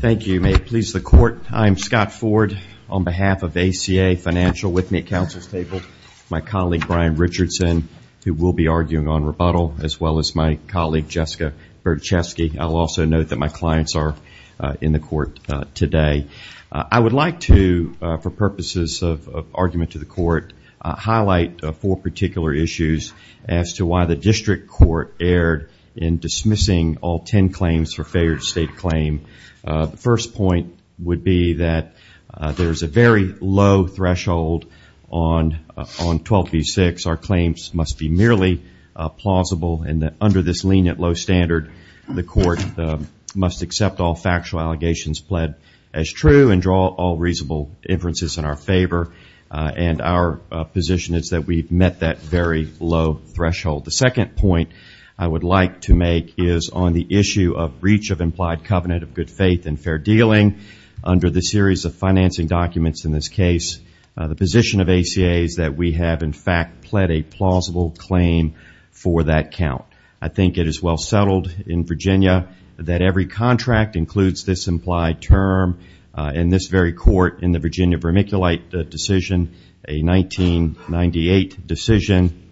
Thank you. May it please the court, I'm Scott Ford on behalf of ACA Financial, with me at council's table, my colleague Brian Richardson, who will be arguing on rebuttal, as well as my colleague Jessica Berczewski. I'll also note that my clients are in the court today. I would like to, for purposes of argument to the court, highlight four particular issues as to why the district court erred in their state claim. The first point would be that there's a very low threshold on 12v6. Our claims must be merely plausible, and that under this lenient low standard, the court must accept all factual allegations pled as true and draw all reasonable inferences in our favor, and our position is that we've met that very low threshold. The second point I would like to make is on the issue of breach of implied covenant of good faith and fair dealing under the series of financing documents in this case. The position of ACA is that we have, in fact, pled a plausible claim for that count. I think it is well settled in Virginia that every contract includes this implied term. In this very court, in the Virginia vermiculite decision, a 1998 decision,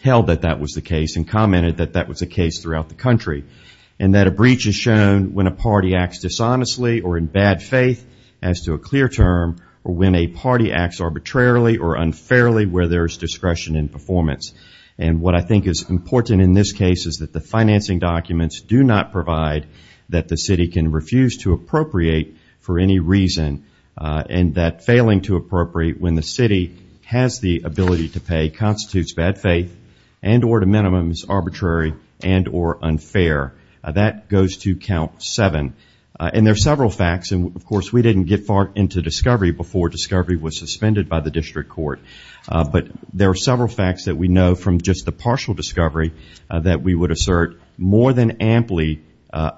held that that was the case and that a breach is shown when a party acts dishonestly or in bad faith as to a clear term or when a party acts arbitrarily or unfairly where there's discretion in performance. And what I think is important in this case is that the financing documents do not provide that the city can refuse to appropriate for any reason and that failing to appropriate when the city has the ability to pay constitutes bad faith and or to minimums arbitrary and or unfair. That goes to count 7. And there are several facts, and of course we didn't get far into discovery before discovery was suspended by the district court, but there are several facts that we know from just the partial discovery that we would assert more than amply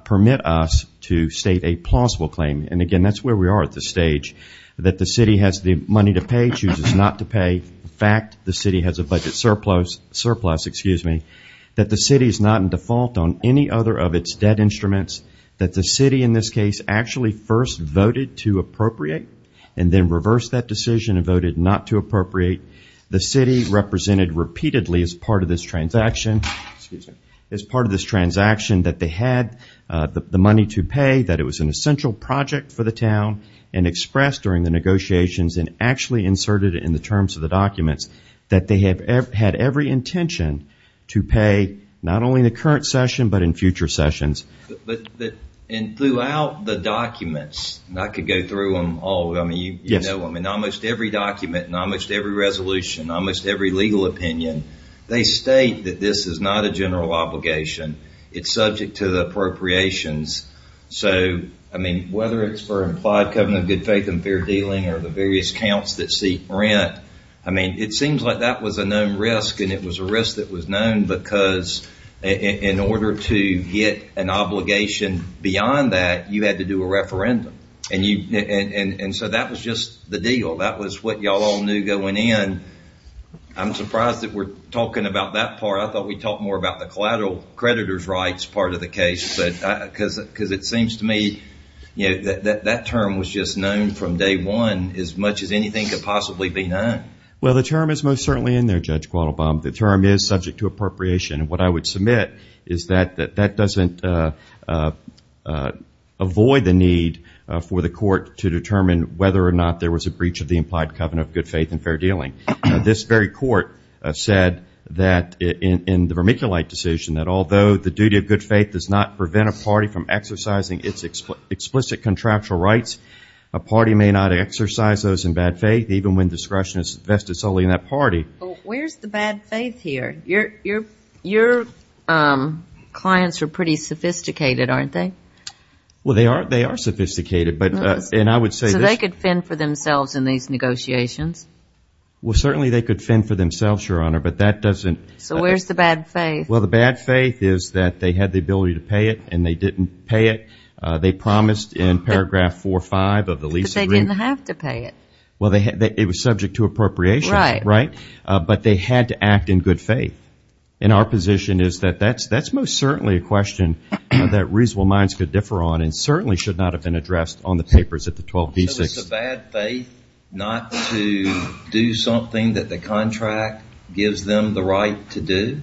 permit us to state a plausible claim. And again, that's where we are at this stage, that the city has the money to pay, chooses not to pay. In fact, the city has a budget surplus, excuse me, that the city is not in default on any other of its debt instruments, that the city in this case actually first voted to appropriate and then reversed that decision and voted not to appropriate. The city represented repeatedly as part of this transaction, excuse me, as part of this transaction that they had the money to pay, that it was an essential project for the town and expressed during the terms of the documents that they have had every intention to pay not only in the current session but in future sessions. And throughout the documents, and I could go through them all, I mean, almost every document and almost every resolution, almost every legal opinion, they state that this is not a general obligation. It's subject to the appropriations. So, I mean, whether it's for implied covenant of good faith and fair dealing or the various counts that the city rent, I mean, it seems like that was a known risk and it was a risk that was known because in order to get an obligation beyond that, you had to do a referendum. And so that was just the deal. That was what y'all all knew going in. I'm surprised that we're talking about that part. I thought we'd talk more about the collateral creditor's rights part of the case because it seems to me, you know, that term was just known from day one as much as anything could possibly be known. Well, the term is most certainly in there, Judge Quattlebaum. The term is subject to appropriation. And what I would submit is that that doesn't avoid the need for the court to determine whether or not there was a breach of the implied covenant of good faith and fair dealing. This very court said that in the vermiculite decision that although the duty of good faith does not prevent a party from exercising its explicit contractual rights, a party may not exercise those in bad faith even when discretion is vested solely in that party. Well, where's the bad faith here? Your clients are pretty sophisticated, aren't they? Well, they are sophisticated. And I would say this. So they could fend for themselves in these negotiations? Well, certainly they could fend for themselves, Your Honor, but that doesn't. So where's the bad faith? Well, the bad faith is that they had the ability to pay it and they didn't pay it. They promised in paragraph 4.5 of the lease agreement. But they didn't have to pay it. Well, it was subject to appropriation, right? But they had to act in good faith. And our position is that that's most certainly a question that reasonable minds could differ on and certainly should not have been addressed on the papers at the 12b6. So is the bad faith not to do something that the contract gives them the right to do?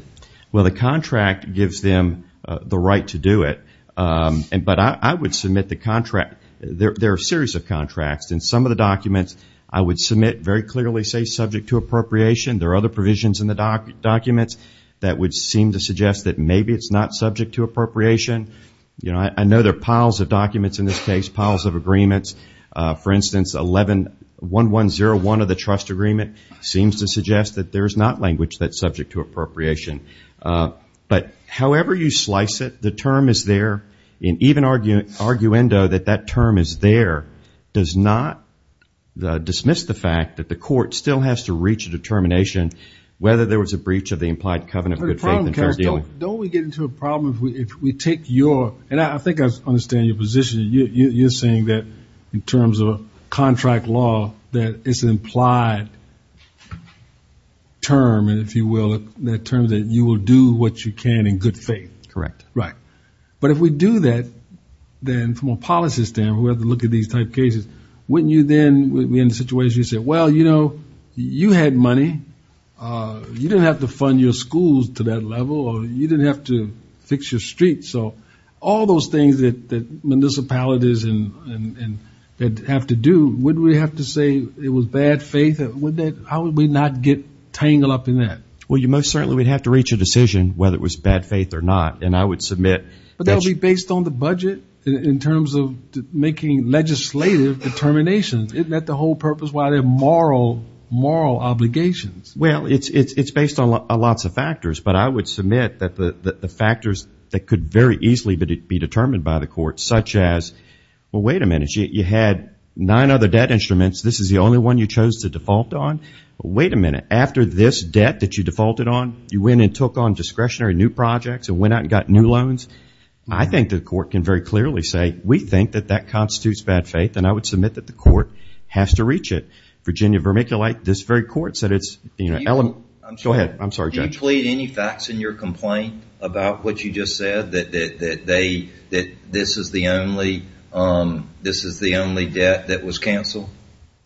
Well, the contract gives them the right to do it. But I would submit the contract. There are a series of contracts. In some of the documents, I would submit very clearly say subject to appropriation. There are other provisions in the documents that would seem to suggest that maybe it's not subject to appropriation. I know there are piles of documents in this case, piles of agreements. For instance, 1101 of the trust agreement seems to suggest that there's not language that's subject to appropriation. So wherever you slice it, the term is there. And even arguendo that that term is there does not dismiss the fact that the court still has to reach a determination whether there was a breach of the implied covenant of good faith. Don't we get into a problem if we take your, and I think I understand your position. You're saying that in terms of contract law, that it's an implied term, if you will, that you will do what you can in good faith. Correct. Right. But if we do that, then from a policy standpoint, we have to look at these type of cases. Wouldn't you then, in a situation, you say, well, you know, you had money. You didn't have to fund your schools to that level or you didn't have to fix your streets. So all those things that municipalities have to do, wouldn't we have to say it was bad faith? How would we not get tangled up in that? Well, you most certainly would have to reach a decision whether it was bad faith or not. And I would submit. But that would be based on the budget in terms of making legislative determinations. Isn't that the whole purpose why there are moral, moral obligations? Well, it's based on lots of factors. But I would submit that the factors that could very easily be determined by the court, such as, well, wait a minute, you had nine other debt instruments. This is the only one you chose to default on. Wait a minute. After this debt that you defaulted on, you went and took on discretionary new projects and went out and got new loans. I think the court can very clearly say, we think that that constitutes bad faith. And I would submit that the court has to reach it. Virginia Vermiculite, this very court, said it's, you know, element. Go ahead. I'm sorry, Judge. Do you plead any facts in your complaint about what you just said, that they, that this is the only, this is the only debt that was canceled?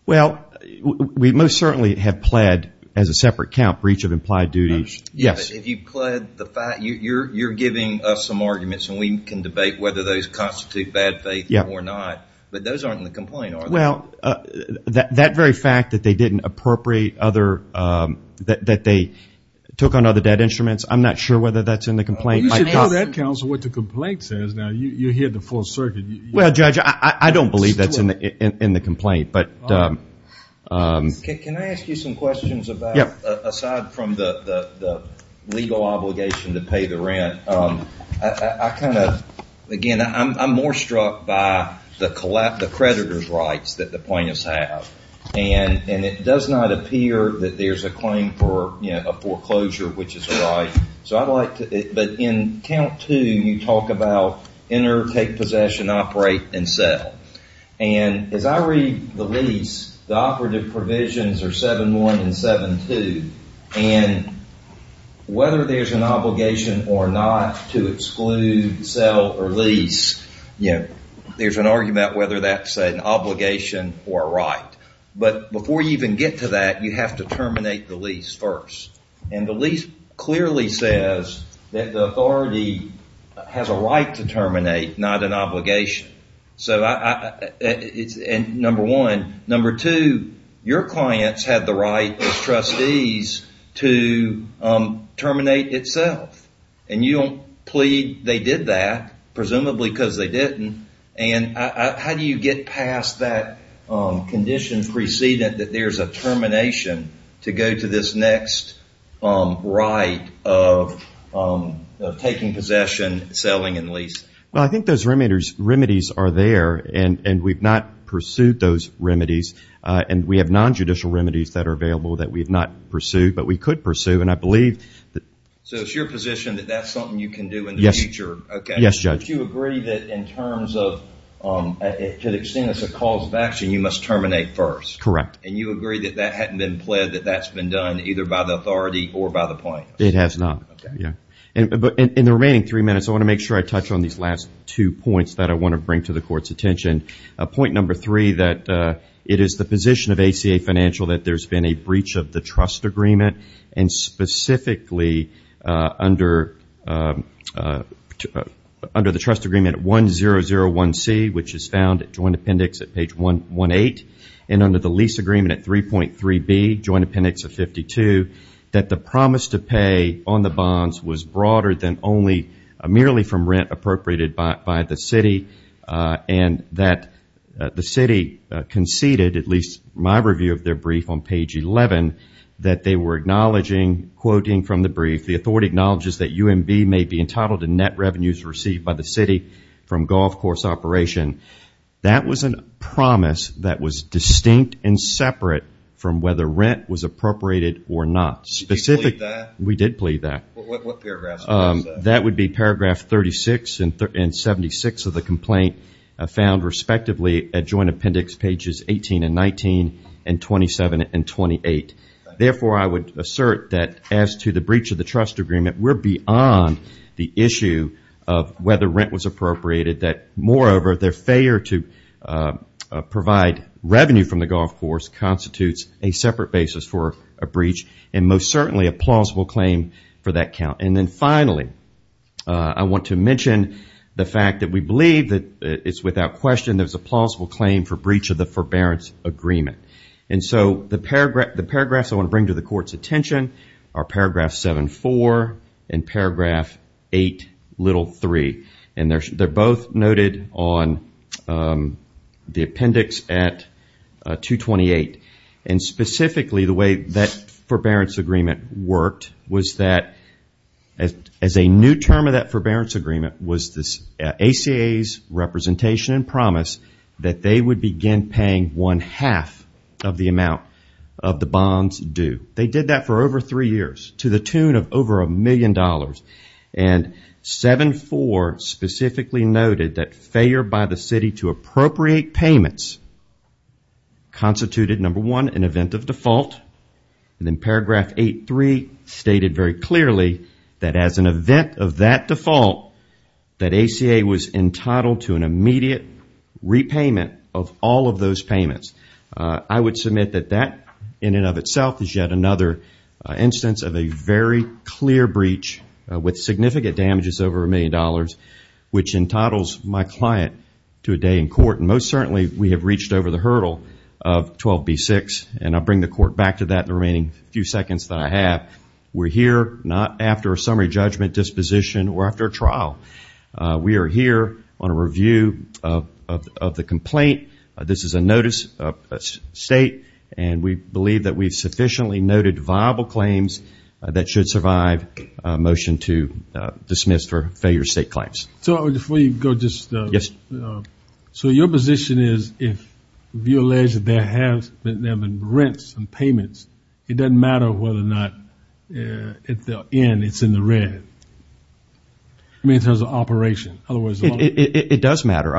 Well, we most certainly have pled, as a separate count, breach of implied duties. Yes. If you pled the fact, you're giving us some arguments and we can debate whether those constitute bad faith or not, but those aren't in the complaint, are they? Well, that very fact that they didn't appropriate other, that they took on other debt instruments, I'm not sure whether that's in the complaint. You should know that, counsel, what the complaint says. Now, you're here at the Fourth Circuit. Well, Judge, I don't believe that's in the complaint, but. Can I ask you some questions about, aside from the legal obligation to pay the rent, I kind of, again, I'm more struck by the creditors' rights that the plaintiffs have. And it does not appear that there's a claim for, you know, a foreclosure, which is right. So, I'd like to, but in count two, you talk about enter, take possession, operate, and sell. And as I read the lease, the operative provisions are 7-1 and 7-2. And whether there's an obligation or not to exclude, sell, or lease, you know, there's an argument whether that's an obligation or a right. But before you even get to that, you have to terminate the lease first. And the lease clearly says that the authority has a right to terminate, not an obligation. So, number one. Number two, your clients have the right as trustees to terminate itself. And you don't plead they did that, presumably because they didn't. And how do you get past that condition precedent that there's a termination to go to this next right of taking possession, selling, and lease? Well, I think those remedies are there. And we've not pursued those remedies. And we have non-judicial remedies that are available that we have not pursued, but we could pursue. And I believe that... So, it's your position that that's something you can do in the future? Yes, Judge. But you agree that in terms of, to the extent it's a cause of action, you must terminate first? Correct. And you agree that that hadn't been pled, that that's been done either by the authority or by the plaintiffs? It has not. Okay. Yeah. But in the remaining three minutes, I want to make sure I touch on these last two points that I want to bring to the court's attention. Point number three, that it is the position of ACA Financial that there's been a breach of the trust agreement. And specifically, under the trust agreement 1001C, which is found at joint appendix at page 118, and under the lease agreement at 3.3B, joint appendix of 52, that the promise to pay on the bonds was broader than only, merely from rent appropriated by the city, and that the city conceded, at least my review of their brief on page 11, that they were acknowledging, quoting from the brief, the authority acknowledges that UMB may be entitled to net revenues received by the city from golf course operation. That was a promise that was distinct and separate from whether rent was appropriated or not. Did you plead that? We did plead that. What paragraph was that? That would be paragraph 36 and 76 of the complaint, found respectively at joint appendix pages 18 and 19, and 27 and 28. Therefore, I would assert that as to the breach of the trust agreement, we're beyond the issue of whether rent was appropriated, that moreover, their failure to provide revenue from the golf course constitutes a separate basis for a breach, and most certainly a plausible claim for that count. And then finally, I want to mention the fact that we believe that it's without question there's a plausible claim for breach of the forbearance agreement. And so the paragraphs I want to bring to the court's attention are paragraph 74 and paragraph 8, little 3. And they're both noted on the appendix at 228. And specifically, the way that forbearance agreement worked was that as a new term of that forbearance agreement was this ACA's representation and promise that they would begin paying one half of the amount of the bonds due. They did that for over three years, to the tune of over a million dollars. And 7.4 specifically noted that failure by the city to appropriate payments constituted, number one, an event of default, and then paragraph 8.3 stated very clearly that as an event of that default, that ACA was entitled to an immediate repayment of all of those payments. I would submit that that, in and of itself, is yet another instance of a very clear breach with significant damages over a million dollars, which entitles my client to a day in court. And most certainly, we have reached over the hurdle of 12B6, and I'll bring the court back to that in the remaining few seconds that I have. We're here not after a summary judgment disposition or after a trial. We are here on a review of the complaint. This is a notice of the state, and we believe that we've sufficiently noted viable claims that should survive a motion to dismiss for failure state claims. So if we go just... Yes. So your position is, if you allege that there have been rents and payments, it doesn't matter whether or not at the end it's in the red, I mean, in terms of operation, otherwise... It does matter.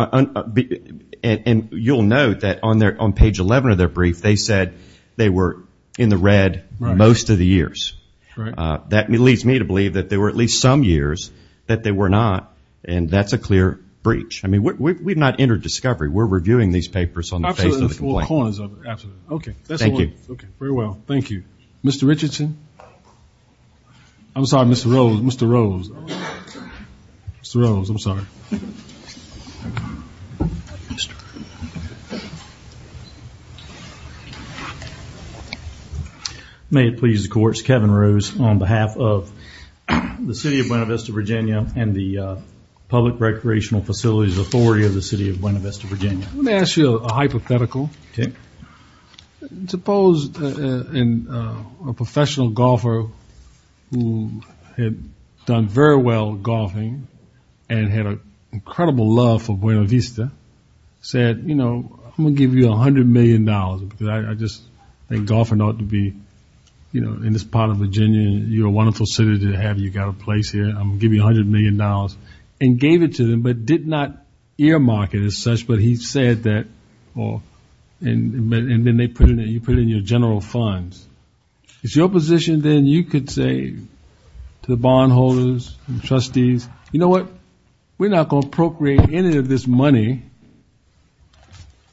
And you'll note that on page 11 of their brief, they said they were in the red most of the years. That leads me to believe that there were at least some years that they were not, and that's a clear breach. I mean, we've not entered discovery. We're reviewing these papers on the face of the complaint. Absolutely. Absolutely. Okay. Thank you. Very well. Thank you. Mr. Richardson? I'm sorry. Mr. Rose. Mr. Rose. Mr. Rose, I'm sorry. Mr. Rose. May it please the court, it's Kevin Rose on behalf of the City of Buena Vista, Virginia and the Public Recreational Facilities Authority of the City of Buena Vista, Virginia. Let me ask you a hypothetical. Okay. Suppose a professional golfer who had done very well golfing and had an opportunity in Buena Vista said, you know, I'm going to give you $100 million because I just think golfing ought to be, you know, in this part of Virginia, you're a wonderful city to have, you've got a place here, I'm going to give you $100 million and gave it to them but did not earmark it as such, but he said that and then you put it in your general funds. Is your position then you could say to the bondholders and trustees, you know what, we're not going to procreate any of this money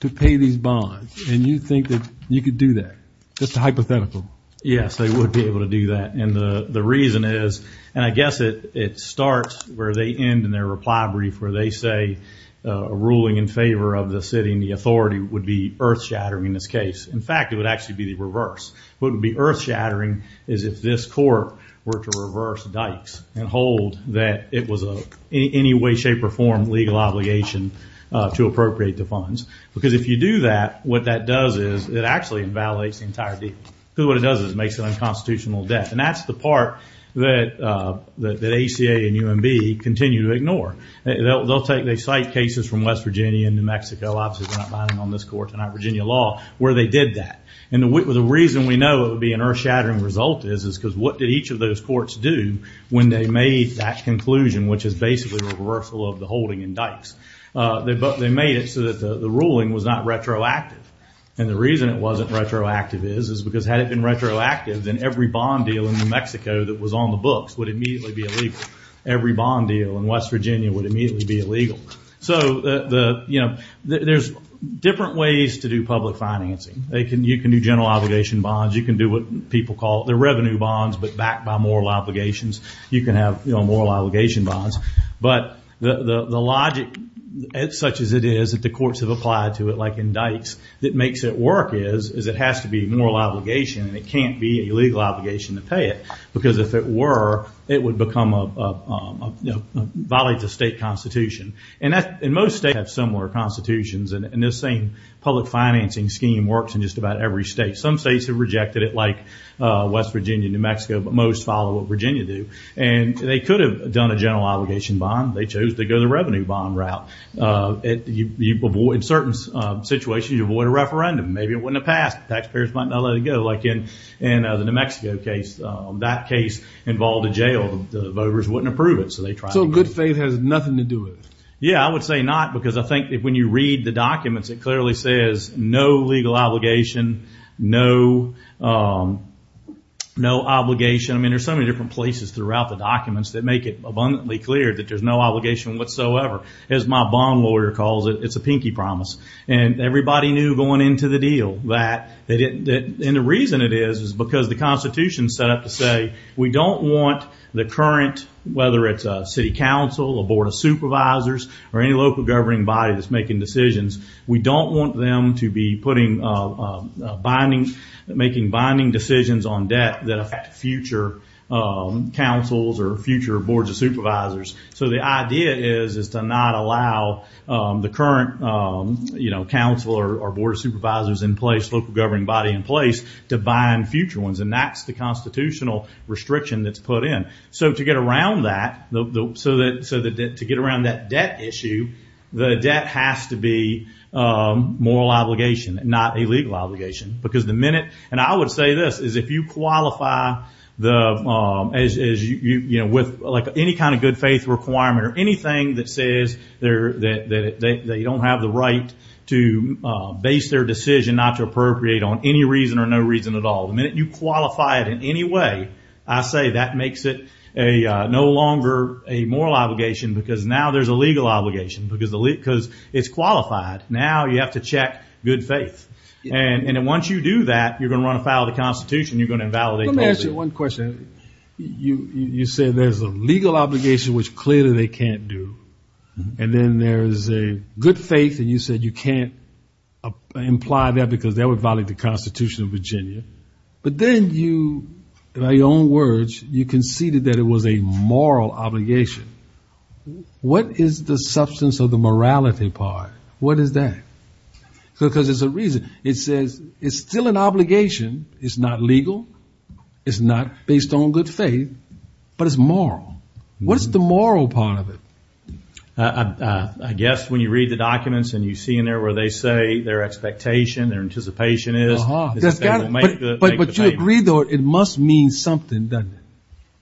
to pay these bonds and you think that you could do that? Just a hypothetical. Yes, they would be able to do that and the reason is, and I guess it starts where they end in their reply brief where they say a ruling in favor of the city and the authority would be earth shattering in this case. In fact, it would actually be the reverse. What would be earth shattering is if this court were to reverse dikes and told that it was any way, shape, or form legal obligation to appropriate the funds because if you do that, what that does is it actually invalidates the entire deal. What it does is it makes it an unconstitutional death and that's the part that ACA and UMB continue to ignore. They'll cite cases from West Virginia and New Mexico, obviously they're not binding on this court, Virginia law, where they did that and the reason we know it would be an earth shattering result is because what did each of those do? They made that conclusion, which is basically reversal of the holding in dikes. They made it so that the ruling was not retroactive and the reason it wasn't retroactive is because had it been retroactive, then every bond deal in New Mexico that was on the books would immediately be illegal. Every bond deal in West Virginia would immediately be illegal. There's different ways to do public financing. You can do general obligation bonds. You can do what people call the revenue bonds, but backed by moral obligations. You can have moral obligation bonds, but the logic such as it is that the courts have applied to it, like in dikes, that makes it work is it has to be moral obligation and it can't be a legal obligation to pay it because if it were, it would violate the state constitution and most states have similar constitutions and this same public financing scheme works in just about every state. Some states have rejected it like West Virginia and New Mexico, but most follow what Virginia do and they could have done a general obligation bond. They chose to go the revenue bond route. In certain situations, you avoid a referendum. Maybe it wouldn't have passed. Taxpayers might not let it go like in the New Mexico case. That case involved a jail. The voters wouldn't approve it, so they tried to get it. So good faith has nothing to do with it? Yeah, I would say not because I think that when you read the documents, it clearly says no legal obligation, no obligation. I mean, there's so many different places throughout the documents that make it abundantly clear that there's no obligation whatsoever. As my bond lawyer calls it, it's a pinky promise and everybody knew going into the deal that they didn't, and the reason it is because the constitution set up to say we don't want the current, whether it's a city council, a board of supervisors, or any local governing body that's making decisions, we don't want them to be putting binding, making binding decisions on debt that affect future councils or future boards of supervisors. So the idea is to not allow the current council or board of supervisors in place, local governing body in place, to bind future ones, and that's the constitutional restriction that's put in. So to get around that debt issue, the debt has to be moral obligation, not a legal obligation because the minute, and I would say this, is if you qualify with any kind of good faith requirement or anything that says they don't have the right to base their decision not to appropriate on any reason or no reason at all, the minute you qualify it in any way, I say that makes it no longer a moral obligation because now there's a legal obligation because it's qualified. Now you have to check good faith. And once you do that, you're going to run afoul of the constitution. You're going to invalidate. Let me ask you one question. You said there's a legal obligation, which clearly they can't do, and then there's a good faith and you said you can't imply that because that would violate the constitution of Virginia. But then you, by your own words, you conceded that it was a moral obligation. What is the substance of the morality part? What is that? Because there's a reason it says it's still an obligation. It's not legal. It's not based on good faith, but it's moral. What's the moral part of it? I guess when you read the documents and you see in there where they say their expectation, their anticipation is. But you agree though, it must mean something, doesn't it?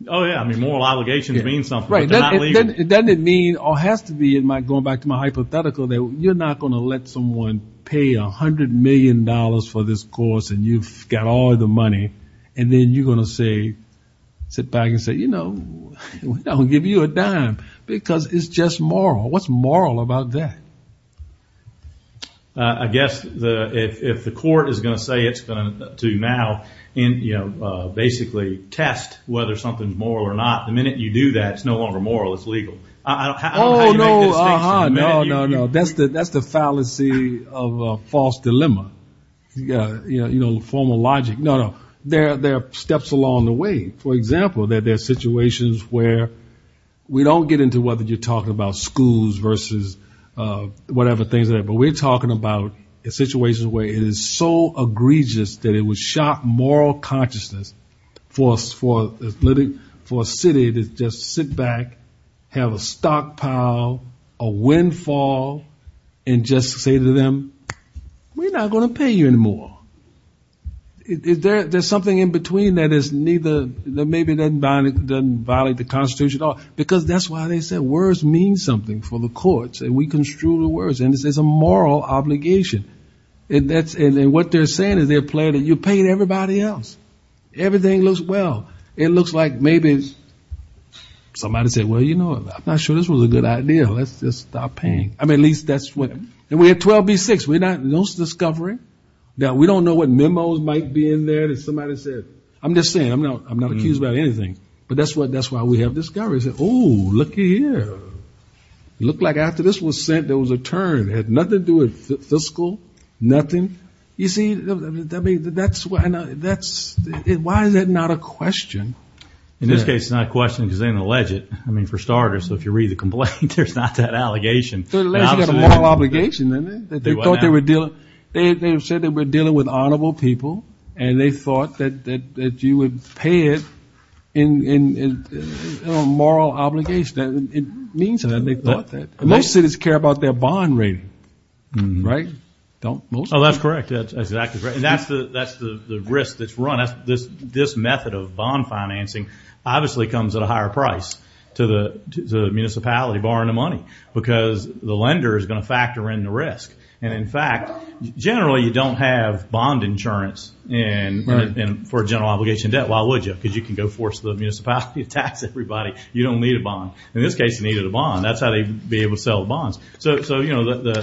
Oh yeah. I mean, moral allegations mean something. But they're not legal. Doesn't it mean, or has to be, going back to my hypothetical, that you're not going to let someone pay a hundred million dollars for this course and you've got all the money, and then you're going to sit back and say, you know, we don't give you a dime because it's just moral. What's moral about that? I guess if the court is going to say it's going to now, you know, basically test whether something's moral or not, the minute you do that, it's no longer moral, it's legal. I don't know how you make the distinction. No, no, no. That's the fallacy of a false dilemma. You know, formal logic. No, no. There are steps along the way. For example, that there are situations where we don't get into whether you're talking about schools versus whatever things are there, but we're talking about a situation where it is so egregious that it would shock moral consciousness for a city to just sit back, have a stockpile, a windfall, and just say to them, we're not going to pay you any more. There's something in between that maybe doesn't violate the Constitution at all, because that's why they said words mean something for the courts and we construe the words. And this is a moral obligation. And what they're saying is they're planning, you paid everybody else. Everything looks well. It looks like maybe somebody said, well, you know, I'm not sure this was a good idea. Let's just stop paying. I mean, at least that's what, and we're at 12B6. We're not, no discovery. Now we don't know what memos might be in there that somebody said. I'm just saying, I'm not, I'm not accused about anything, but that's what, that's why we have discoveries. Oh, looky here. It looked like after this was sent, there was a turn. It had nothing to do with fiscal, nothing. You see, that's why, why is that not a question? In this case, it's not a question because they didn't allege it. I mean, for starters, so if you read the complaint, there's not that allegation. They said it was a moral obligation. They thought they were dealing, they said they were dealing with honorable people and they thought that, that, that you would pay it in a moral obligation. And it means that they thought that. Most cities care about their bond rating, right? Don't most? Oh, that's correct. That's exactly right. And that's the, that's the risk that's run. That's this, this method of bond financing obviously comes at a higher price to the municipality borrowing the money because the lender is going to factor in the risk. And in fact, generally you don't have bond insurance and for a general obligation debt, why would you? Because you can go force the municipality to tax everybody. You don't need a bond. In this case, they needed a bond. That's how they'd be able to sell bonds. So, so, you know, the, the,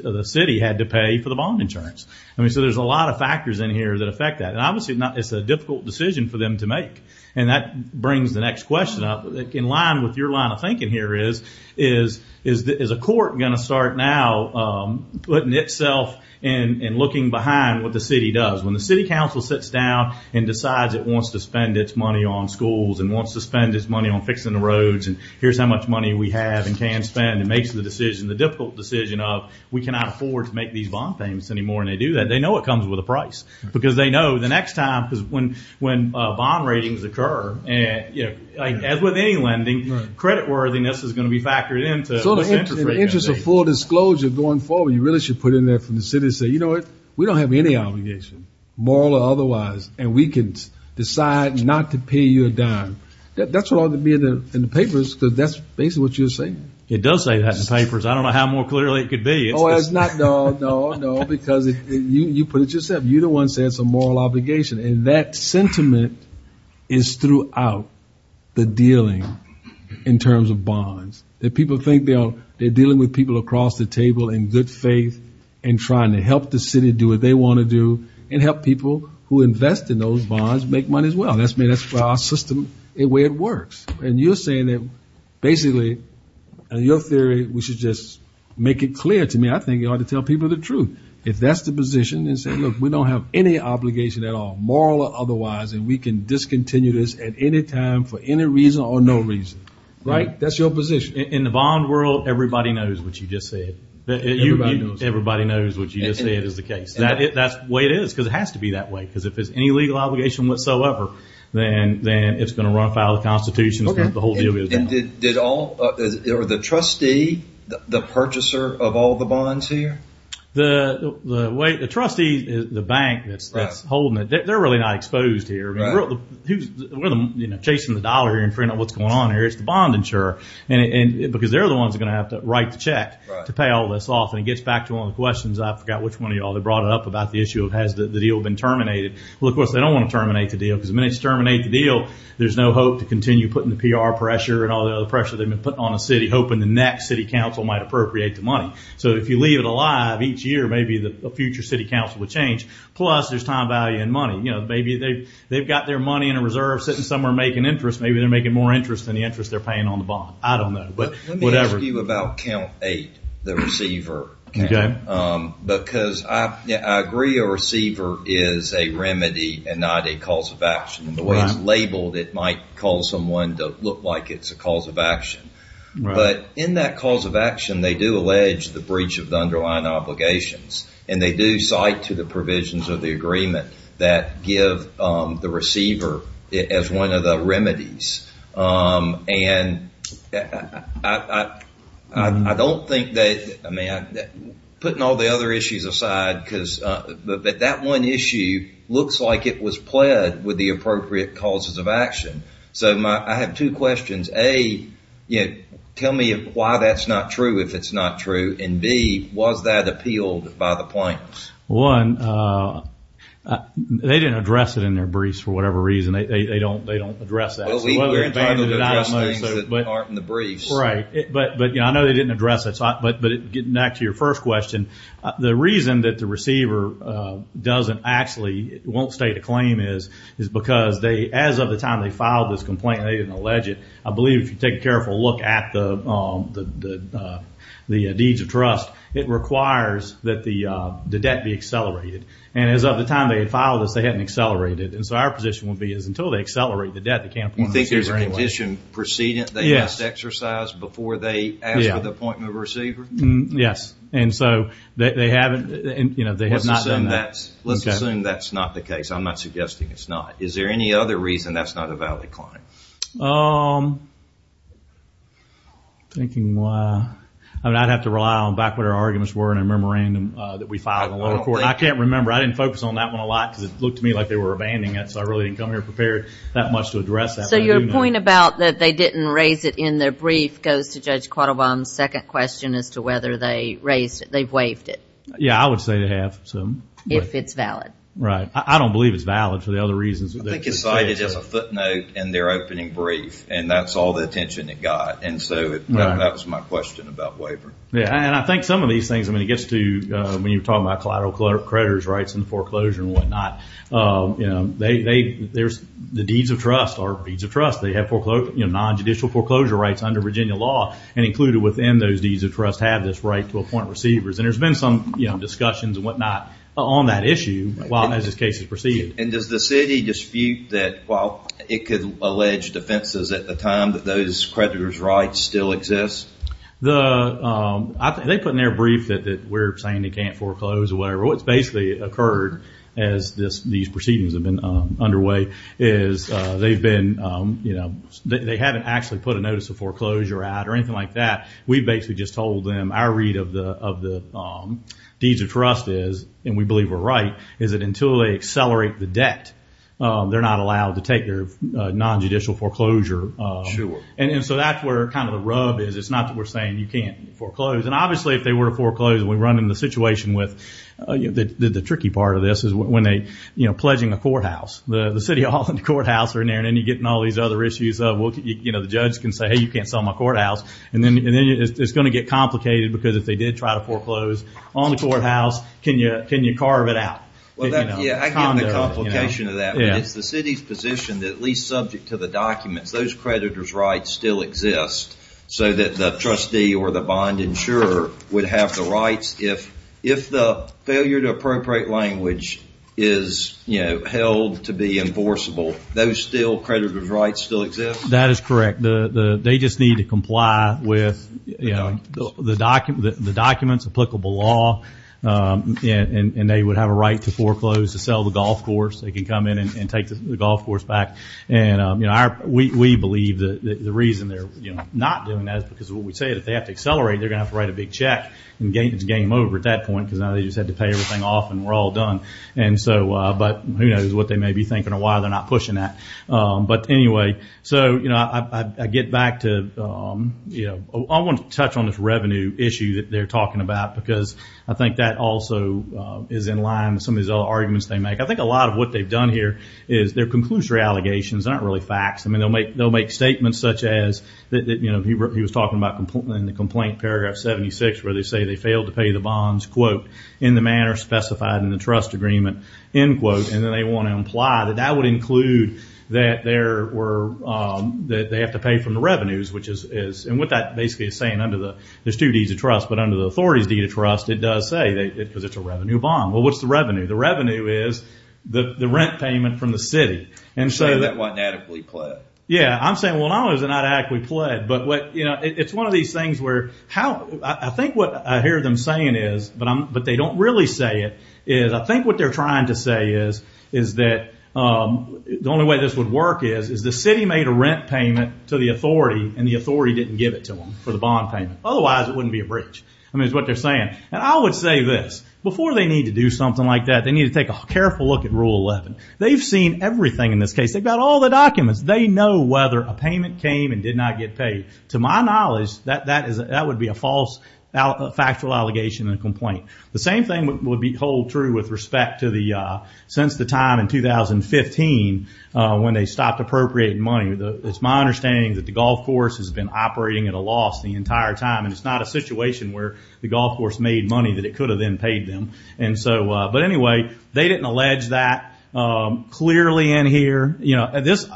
the, the city had to pay for the bond insurance. I mean, so there's a lot of factors in here that affect that. And obviously not, it's a difficult decision for them to make. And that brings the next question up in line with your line of thinking here is, is, is, is a court going to start now, um, putting itself in and looking behind what the city does when the city council sits down and decides it wants to spend its money on schools and wants to spend its money on fixing the roads. And here's how much money we have and can spend and makes the decision, the difficult decision of we cannot afford to make these bond payments anymore. And they do that. They know it comes with a price because they know the next time, because when, when a bond ratings occur and, you know, like as with any lending credit worthiness is going to be factored into the interest of full disclosure going forward, you really should put in there from the city and say, you know what? We don't have any obligation, moral or otherwise, and we can decide not to pay you a dime. That's what ought to be in the, in the papers. Cause that's basically what you're saying. It does say that in the papers. I don't know how more clearly it could be. Oh, it's not, no, no, no, because you, you put it yourself. You're the one saying it's a moral obligation. And that sentiment is throughout the dealing in terms of bonds that people think they are, they're dealing with people across the table in good faith and trying to help the city do what they want to do and help people who invest in those bonds, make money as well. That's me. That's our system, the way it works. And you're saying that basically your theory, we should just make it clear to me. I think you ought to tell people the truth. If that's the position and say, look, we don't have any obligation at all. Moral or otherwise, and we can discontinue this at any time for any reason or no reason, right? That's your position. In the bond world. Everybody knows what you just said. Everybody knows what you just said is the case that it, that's the way it is because it has to be that way. Cause if it's any legal obligation whatsoever, then it's going to run afoul of the constitution. The whole deal is done. Did all or the trustee, the purchaser of all the bonds here? The, the way the trustee, the bank that's holding it, they're really not exposed here. Who's chasing the dollar and figuring out what's going on here. It's the bond insurer and because they're the ones that are going to have to write the check to pay all this off. And it gets back to one of the questions. I forgot which one of y'all they brought it up about the issue of has the deal been terminated? Well, of course they don't want to terminate the deal. Cause the minute you terminate the deal, there's no hope to continue putting the PR pressure and all the other pressure they've been putting on a city hoping the next city council might appropriate the money. So if you leave it alive each year, maybe the future city council would change. Plus there's time, value and money. You know, maybe they've got their money in a reserve sitting somewhere making interest. Maybe they're making more interest than the interest they're paying on the bond. I don't know, but whatever. Let me ask you about count eight, the receiver. Because I agree a receiver is a remedy and not a cause of action. The way it's labeled, it might call someone to look like it's a cause of action. But in that cause of action, they do allege the breach of the underlying obligations and they do cite to the provisions of the agreement that give, um, the receiver as one of the remedies. Um, and I, I, I, I, I don't think that, I mean, putting all the other issues aside, cause, uh, but that one issue looks like it was pled with the appropriate causes of action. So my, I have two questions. A, you know, tell me why that's not true. If it's not true in B, was that appealed by the plaintiffs? One, uh, they didn't address it in their briefs for whatever reason. They, they, they don't, they don't address that. But aren't in the briefs, right. But, but, you know, I know they didn't address it, but, but getting back to your first question, the reason that the receiver, uh, doesn't actually won't state a claim is, is because they, as of the time they filed this complaint, they didn't allege it. I believe if you take a careful look at the, um, the, the, uh, the deeds of trust, it requires that the, uh, the debt be accelerated. And as of the time they had filed this, they hadn't accelerated it. And so our position would be is until they accelerate the debt, they can't appoint a receiver anyway. You think there's a condition precedent they must exercise before they ask for the appointment of a receiver? Yes. And so they, they haven't, you know, they have not done that. Let's assume that's not the case. I'm not suggesting it's not. Is there any other reason that's not a valid claim? Um, I'm thinking why, I mean, I'd have to rely on back what our arguments were in a memorandum, uh, that we filed in the lower court. I can't remember. I didn't focus on that one a lot because it looked to me like they were abandoning it. So I really didn't come here prepared that much to address that. So your point about that they didn't raise it in their brief goes to judge Quattlebaum's second question as to whether they raised it. They've waived it. Yeah. I would say they have. So if it's valid, right. I don't believe it's valid for the other reasons. I think it's cited as a footnote in their opening brief. And that's all the attention it got. And so that was my question about waiver. Yeah. And I think some of these things, I mean, it gets to, uh, when you're talking about collateral creditors rights and foreclosure and whatnot, um, you know, they, they, there's the deeds of trust or deeds of trust. They have foreclosed, you know, nonjudicial foreclosure rights under Virginia law and included within those deeds of trust have this right to appoint receivers. And there's been some discussions and whatnot on that issue as this case has proceeded. And does the city dispute that while it could allege defenses at the time that those creditors rights still exist? The, um, I think they put in their brief that, that we're saying they can't foreclose or whatever. What's basically occurred as this, these proceedings have been underway is, uh, they've been, um, you know, they haven't actually put a notice of foreclosure out or anything like that. We basically just told them our read of the, of the, um, deeds of trust is, and we believe we're right, is that until they accelerate the debt, um, they're not allowed to take their, uh, nonjudicial foreclosure. And so that's where kind of the rub is. It's not that we're saying you can't foreclose. And obviously if they were to foreclose and we run into the situation with, uh, you know, the, the, the tricky part of this is when they, you know, pledging a courthouse, the, the city hall and the courthouse are in there. And then you get in all these other issues. Uh, well, you know, the judge can say, Hey, you can't sell my courthouse. And then, and then it's going to get complicated because if they did try to foreclose on your courthouse, can you, can you carve it out? Well, yeah, I get the complication of that, but it's the city's position that at least subject to the documents, those creditor's rights still exist so that the trustee or the bond insurer would have the rights. If, if the failure to appropriate language is, you know, held to be enforceable, those still creditor's rights still exist? That is correct. The, the, they just need to comply with, you know, the doc, the documents applicable law. Um, and, and they would have a right to foreclose to sell the golf course. They can come in and take the golf course back. And, um, you know, our, we, we believe that the reason they're not doing that is because what we say that they have to accelerate, they're going to have to write a big check and gain it's game over at that point. Cause now they just had to pay everything off and we're all done. And so, uh, but who knows what they may be thinking or why they're not pushing that. Um, but anyway, so, you know, I, I, I get back to, um, you know, I want to touch on this revenue issue that they're talking about because I think that also, uh, is in line with some of these other arguments they make. I think a lot of what they've done here is their conclusory allegations aren't really facts. I mean, they'll make, they'll make statements such as that, that, you know, he wrote, he was talking about in the complaint paragraph 76 where they say they failed to pay the bonds quote in the manner specified in the trust agreement, end quote. And then they want to imply that that would include that there were, um, that they have to pay from the revenues, which is, is, and what that basically is saying under the, there's two D's of trust, but under the authority's deed of trust, it does say that it, cause it's a revenue bond. Well, what's the revenue? The revenue is the rent payment from the city. And so that wasn't adequately pled. Yeah. I'm saying, well, no it was not adequately pled. But what, you know, it's one of these things where, how I think what I hear them saying is, but I'm, but they don't really say it is I think what they're trying to say is, is that, um, the only way this would work is is the city made a rent payment to the for the bond payment. Otherwise it wouldn't be a bridge. I mean, it's what they're saying. And I would say this before they need to do something like that, they need to take a careful look at rule 11. They've seen everything in this case. They've got all the documents. They know whether a payment came and did not get paid. To my knowledge, that that is, that would be a false factual allegation and complaint. The same thing would be hold true with respect to the, uh, since the time in 2015, uh, when they stopped appropriating money. It's my understanding that the golf course has been operating at a loss the entire time. And it's not a situation where the golf course made money that it could have then paid them. And so, uh, but anyway, they didn't allege that, um, clearly in here, you know, this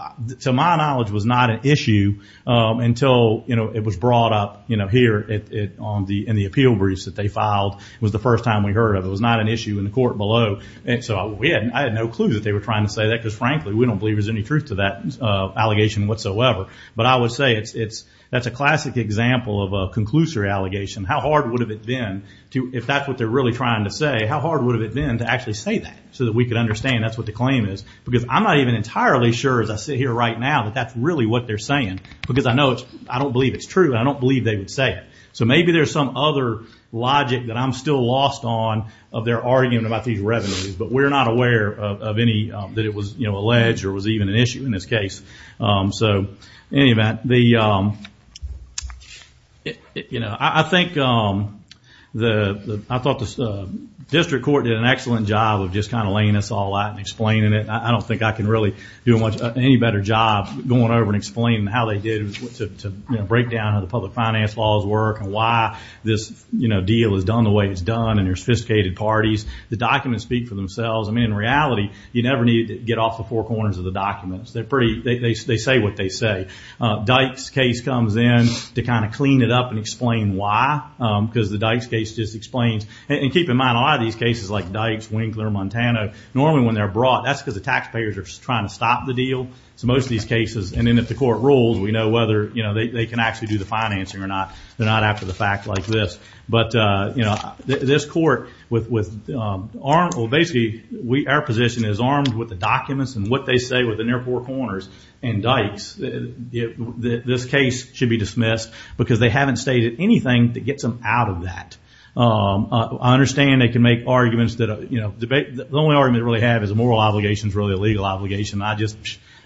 to my knowledge was not an issue, um, until, you know, it was brought up, you know, here, it, it, on the, in the appeal briefs that they filed was the first time we heard of it. It was not an issue in the court below. And so we hadn't, I had no clue that they were trying to say that because frankly, we don't believe there's any truth to that, uh, allegation whatsoever. But I would say it's, it's, that's a classic example of a conclusory allegation. How hard would have it been to, if that's what they're really trying to say, how hard would have it been to actually say that so that we could understand that's what the claim is? Because I'm not even entirely sure as I sit here right now that that's really what they're saying, because I know it's, I don't believe it's true. I don't believe they would say it. So maybe there's some other logic that I'm still lost on of their argument about these revenues, but we're not aware of any, um, that it was, you know, alleged or was even an issue in this case. Um, so any of that, the, um, you know, I think, um, the, the, I thought the district court did an excellent job of just kind of laying us all out and explaining it. I don't think I can really do a much any better job going over and explaining how they did to break down how the public finance laws work and why this deal has done the way it's done. And they're sophisticated parties. The documents speak for themselves. I mean, in reality, you never need to get off the four corners of the documents. They're pretty, they say what they say. Dykes case comes in to kind of clean it up and explain why. Um, because the Dykes case just explains and keep in mind a lot of these cases like Dykes, Winkler, Montana, normally when they're brought, that's because the taxpayers are trying to stop the deal. So most of these cases, and then if the court rules, we know whether, you know, they can actually do the financing or not. They're not after the fact like this. But, uh, you know, this court with, with, um, aren't, well, basically we, our position is armed with the documents and what they say within their four corners and Dykes, this case should be dismissed because they haven't stated anything that gets them out of that. Um, I understand they can make arguments that, you know, debate. The only argument really have is a moral obligation is really a legal obligation. I just,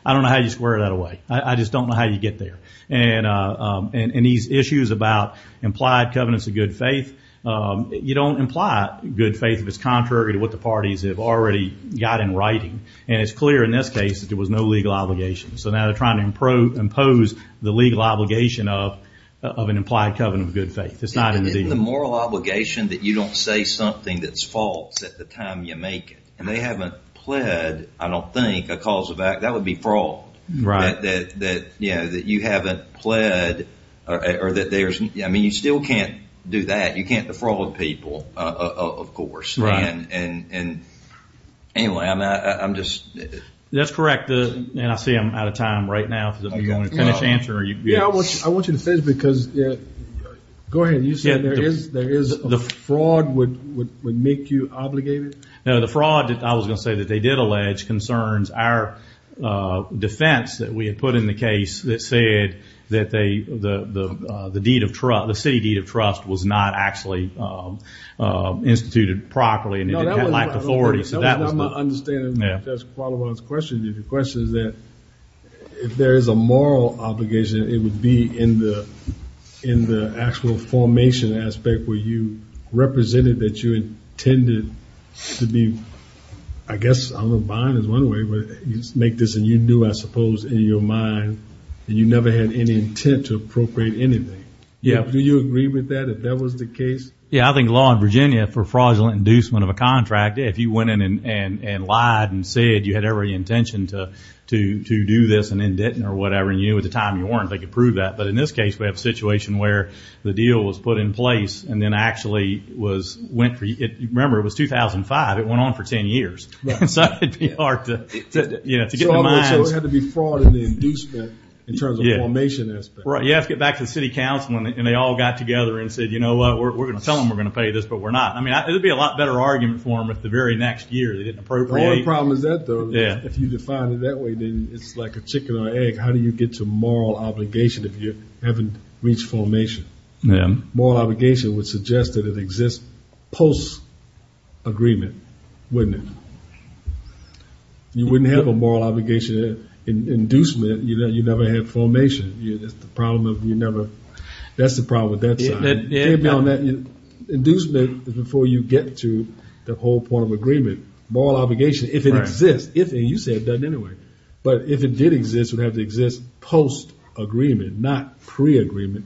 I don't know how you square that away. I just don't know how you get there. And, uh, um, and these issues about implied covenants of good faith, um, you don't imply good faith. If it's contrary to what the parties have already got in writing. And it's clear in this case that there was no legal obligation. So now they're trying to improve, impose the legal obligation of, of an implied covenant of good faith. It's not in the moral obligation that you don't say something that's false at the time you make it. And they haven't pled. I don't think a cause of act, that would be fraud that, that, that, you know, that you haven't pled or that there's, I mean, you still can't do that. You can't defraud people, uh, of course. Right. And, and, and anyway, I'm not, I'm just, that's correct. And I see I'm out of time right now because I'm going to finish answering you. I want you to finish because yeah, go ahead. You said there is, there is the fraud would, would, would make you obligated. No, the fraud that I was going to say that they did allege concerns our, uh, defense that we had put in the case that said that they, the, the, uh, the deed of trust, the city deed of trust was not actually, um, uh, instituted properly and it lacked authority. So that was my understanding. That's part of what I was questioning. If your question is that if there is a moral obligation, it would be in the, in the actual formation aspect where you represented that you intended to be, I guess, I'm a bond is one way, but you just make this and you knew, I suppose in your mind and you never had any intent to appropriate anything. Yeah. Do you agree with that? If that was the case? Yeah. I think law in Virginia for fraudulent inducement of a contract. If you went in and, and, and lied and said you had every intention to, to, to do this and then didn't or whatever. And you knew at the time you weren't, they could prove that. But in this case we have a situation where the deal was put in place and then actually was went for it. Remember it was 2005. It went on for 10 years. So it'd be hard to be fraud and inducement in terms of formation. You have to get back to the city council and they all got together and said, you know what, we're going to tell them we're going to pay this, but we're not. I mean, it would be a lot better argument for him at the very next year. They didn't appropriate. The problem is that though, if you define it that way, then it's like a chicken or egg. How do you get to moral obligation if you haven't reached formation? Moral obligation would suggest that it exists post agreement, wouldn't it? You wouldn't have a moral obligation inducement. You know, you never had formation. That's the problem with that side. Inducement is before you get to the whole point of agreement, moral obligation, if it exists, if you say it doesn't anyway, but if it did exist, it would have to exist post agreement, not pre agreement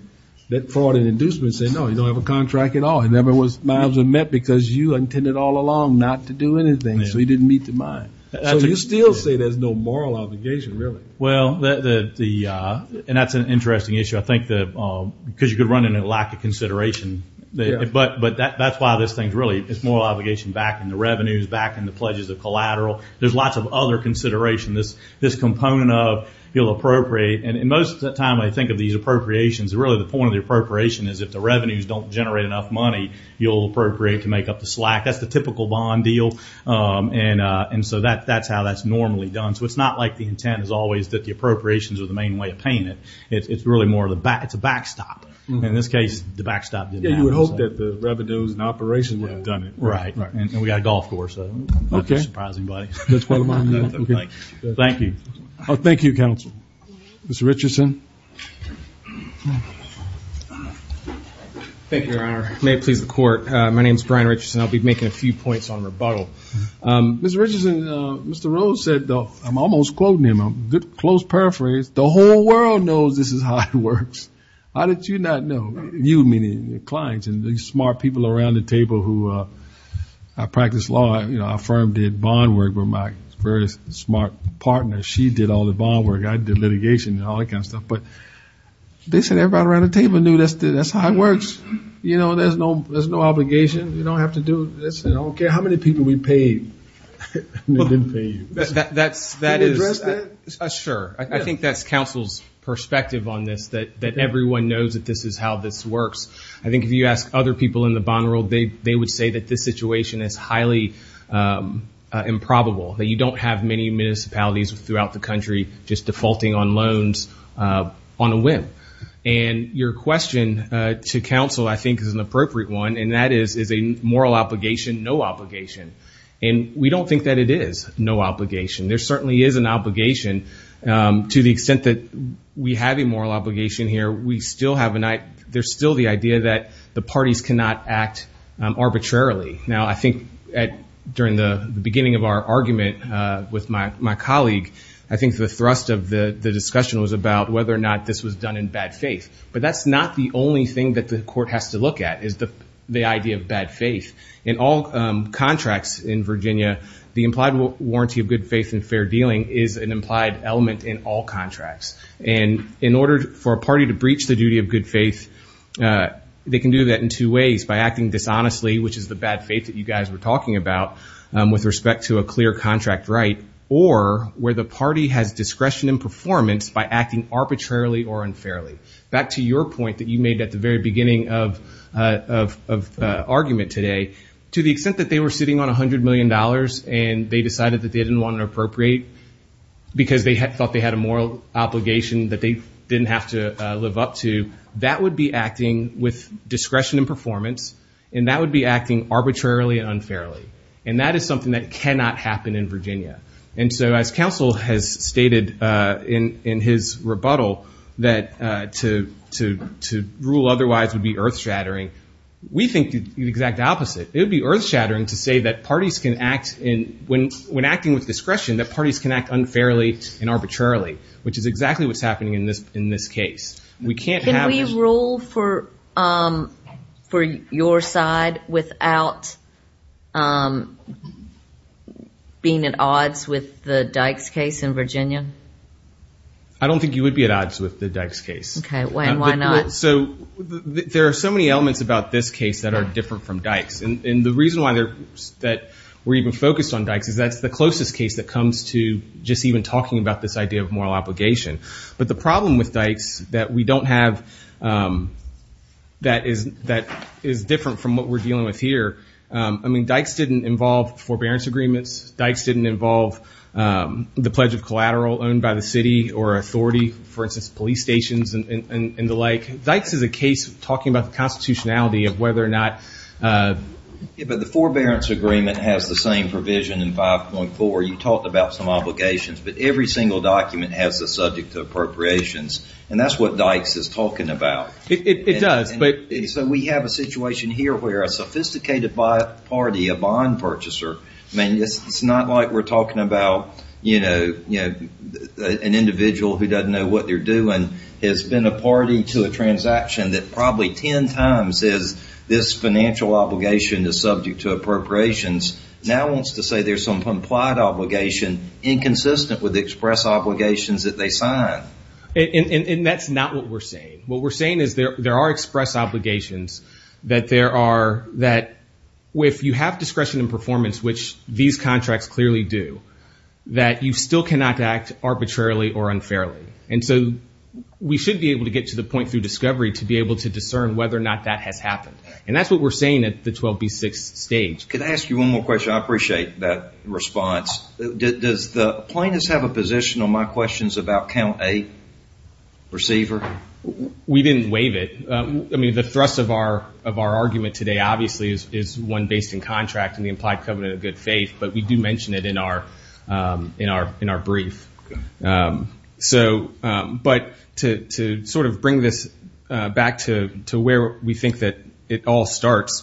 that fraud and inducement say, no, you don't have a contract at all. It never was miles and met because you intended all along not to do anything. So he didn't meet the mind. So you still say there's no moral obligation, really? Well, the, the, uh, and that's an interesting issue. I think that, uh, cause you could run into lack of consideration, but, but that, that's why this thing's really, it's moral obligation back in the revenues, back in the pledges of collateral. There's lots of other consideration. This, this component of you'll appropriate. And most of the time I think of these appropriations are really the point of the appropriation is if the revenues don't generate enough money, you'll appropriate to make up the slack. That's the typical bond deal. Um, and, uh, and so that, that's how that's normally done. So it's not like the intent is always that the appropriations are the main way of paying it. It's really more of the back. It's a backstop. In this case, the backstop didn't hope that the revenues and operation would have done it. Right. And we got a golf course. Okay. Surprising buddy. Thank you. Oh, thank you. Council. Mr. Richardson. Thank you, Your Honor. May it please the court. Uh, my name is Brian Richardson. I'll be making a few points on rebuttal. Um, Mr. Richardson, uh, Mr. Rose said, I'm almost quoting him. I'm close paraphrase. The whole world knows this is how it works. How did you not know? You meaning the clients and the smart people around the table who, uh, I practice law, you know, our firm did bond work with my very smart partner. She did all the bond work. I did litigation and all that kind of stuff. But they said everybody around the table knew that's the, that's how it works. You know, there's no, there's no obligation. You don't have to do this. And I don't care how many people we paid. They didn't pay you. That's that is sure. I think that's council's perspective on this, that, that everyone knows that this is how this works. I think if you ask other people in the bond world, they, they would say that this situation is highly, um, uh, improbable that you don't have many municipalities throughout the country, just defaulting on loans, uh, on a whim. And your question, uh, to council, I think is an appropriate one. And that is, is a moral obligation, no obligation. And we don't think that it is no obligation. There certainly is an obligation, um, to the extent that we have a moral obligation here. We still have an eye. There's still the idea that the parties cannot act arbitrarily. Now, I think at, during the beginning of our argument, uh, with my, my colleague, I think the thrust of the discussion was about whether or not this was done in bad faith, but that's not the only thing that the court has to look at is the, the idea of bad faith. In all, um, contracts in Virginia, the implied warranty of good faith and fair dealing is an implied element in all contracts. And in order for a party to breach the duty of good faith, uh, they can do that in two ways by acting dishonestly, which is the bad faith that you guys were talking about, um, with respect to a clear contract, right. Or where the party has discretion and performance by acting arbitrarily or unfairly. Back to your point that you made at the very beginning of, uh, of, of, uh, argument today, to the extent that they were sitting on a hundred million dollars and they decided that they didn't want to appropriate because they had thought they had a moral obligation that they didn't have to live up to, that would be acting with discretion and performance. And that would be acting arbitrarily and unfairly. And that is something that cannot happen in Virginia. And so as counsel has stated, uh, in, in his rebuttal, that, uh, to, to, to rule otherwise would be earth shattering. We think the exact opposite. It would be earth shattering to say that parties can act in when, when acting with discretion, that parties can act unfairly and arbitrarily, which is exactly what's happening in this, in this case. We can't have rule for, um, for your side without, um, being at odds with the Dykes case in Virginia. I don't think you would be at odds with the Dykes case. Okay. Why, why not? So there are so many elements about this case that are different from Dykes. And the reason why they're that we're even focused on Dykes is that's the closest case that comes to just even talking about this idea of moral obligation. But the problem with Dykes that we don't have, um, that is, that is different from what we're dealing with here. Um, I mean, Dykes didn't involve forbearance agreements. Dykes didn't involve, um, the pledge of collateral owned by the city or authority, for instance, police stations and the like. Dykes is a case talking about the constitutionality of whether or not, uh, Yeah, but the forbearance agreement has the same provision in 5.4. You talked about some obligations, but every single document has the subject to appropriations. And that's what Dykes is talking about. It does. But, so we have a situation here where a sophisticated by party, a bond purchaser, I mean, it's, it's not like we're talking about, you know, an individual who doesn't know what they're doing has been a party to a transaction that probably 10 times is this financial obligation is subject to appropriations. Now wants to say there's some implied obligation inconsistent with express obligations that they sign. And that's not what we're saying. What we're saying is there, there are express obligations that there are, that if you have discretion and performance, which these contracts clearly do that, you still cannot act arbitrarily or unfairly. And so we should be able to get to the point through discovery to be able to discern whether or not that has happened. And that's what we're saying at the 12B6 stage. Could I ask you one more question? I appreciate that response. Does the plaintiffs have a position on my questions about count a receiver? We didn't waive it. I mean, the thrust of our, of our argument today, obviously is, is one based in contract and the implied covenant of good faith, but we do mention it in our in our, in our brief. So but to, to sort of bring this back to, to where we think that it all starts,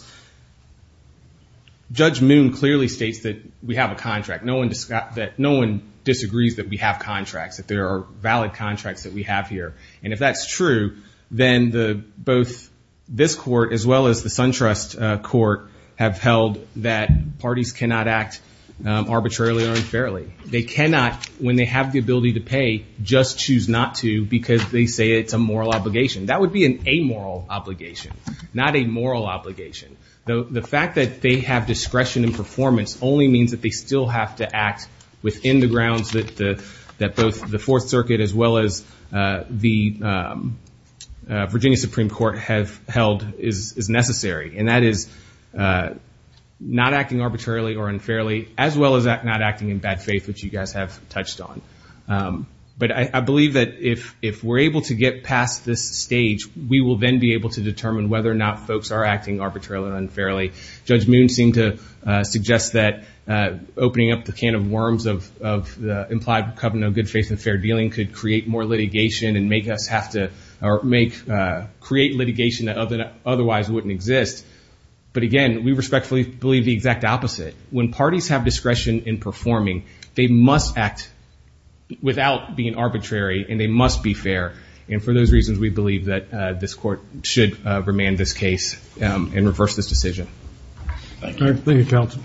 judge Moon clearly states that we have a contract. No one, that no one disagrees that we have contracts, that there are valid contracts that we have here. And if that's true, then the both this court, as well as the SunTrust court have held that parties cannot act arbitrarily or unfairly. They cannot, when they have the ability to pay, just choose not to because they say it's a moral obligation. That would be an amoral obligation, not a moral obligation. Though the fact that they have discretion and performance only means that they still have to act within the grounds that the, that both the fourth circuit as well as the Virginia Supreme Court have held is necessary. And that is not acting arbitrarily or unfairly as well as not acting in bad faith, which you guys have touched on. But I believe that if, if we're able to get past this stage, we will then be able to determine whether or not folks are acting arbitrarily or unfairly. Judge Moon seemed to suggest that opening up the can of worms of, the implied covenant of good faith and fair dealing could create more litigation and make us have to, or make, create litigation that otherwise wouldn't exist. But again, we respectfully believe the exact opposite. When parties have discretion in performing, they must act without being arbitrary and they must be fair. And for those reasons, we believe that this court should remand this case and reverse this decision. Thank you.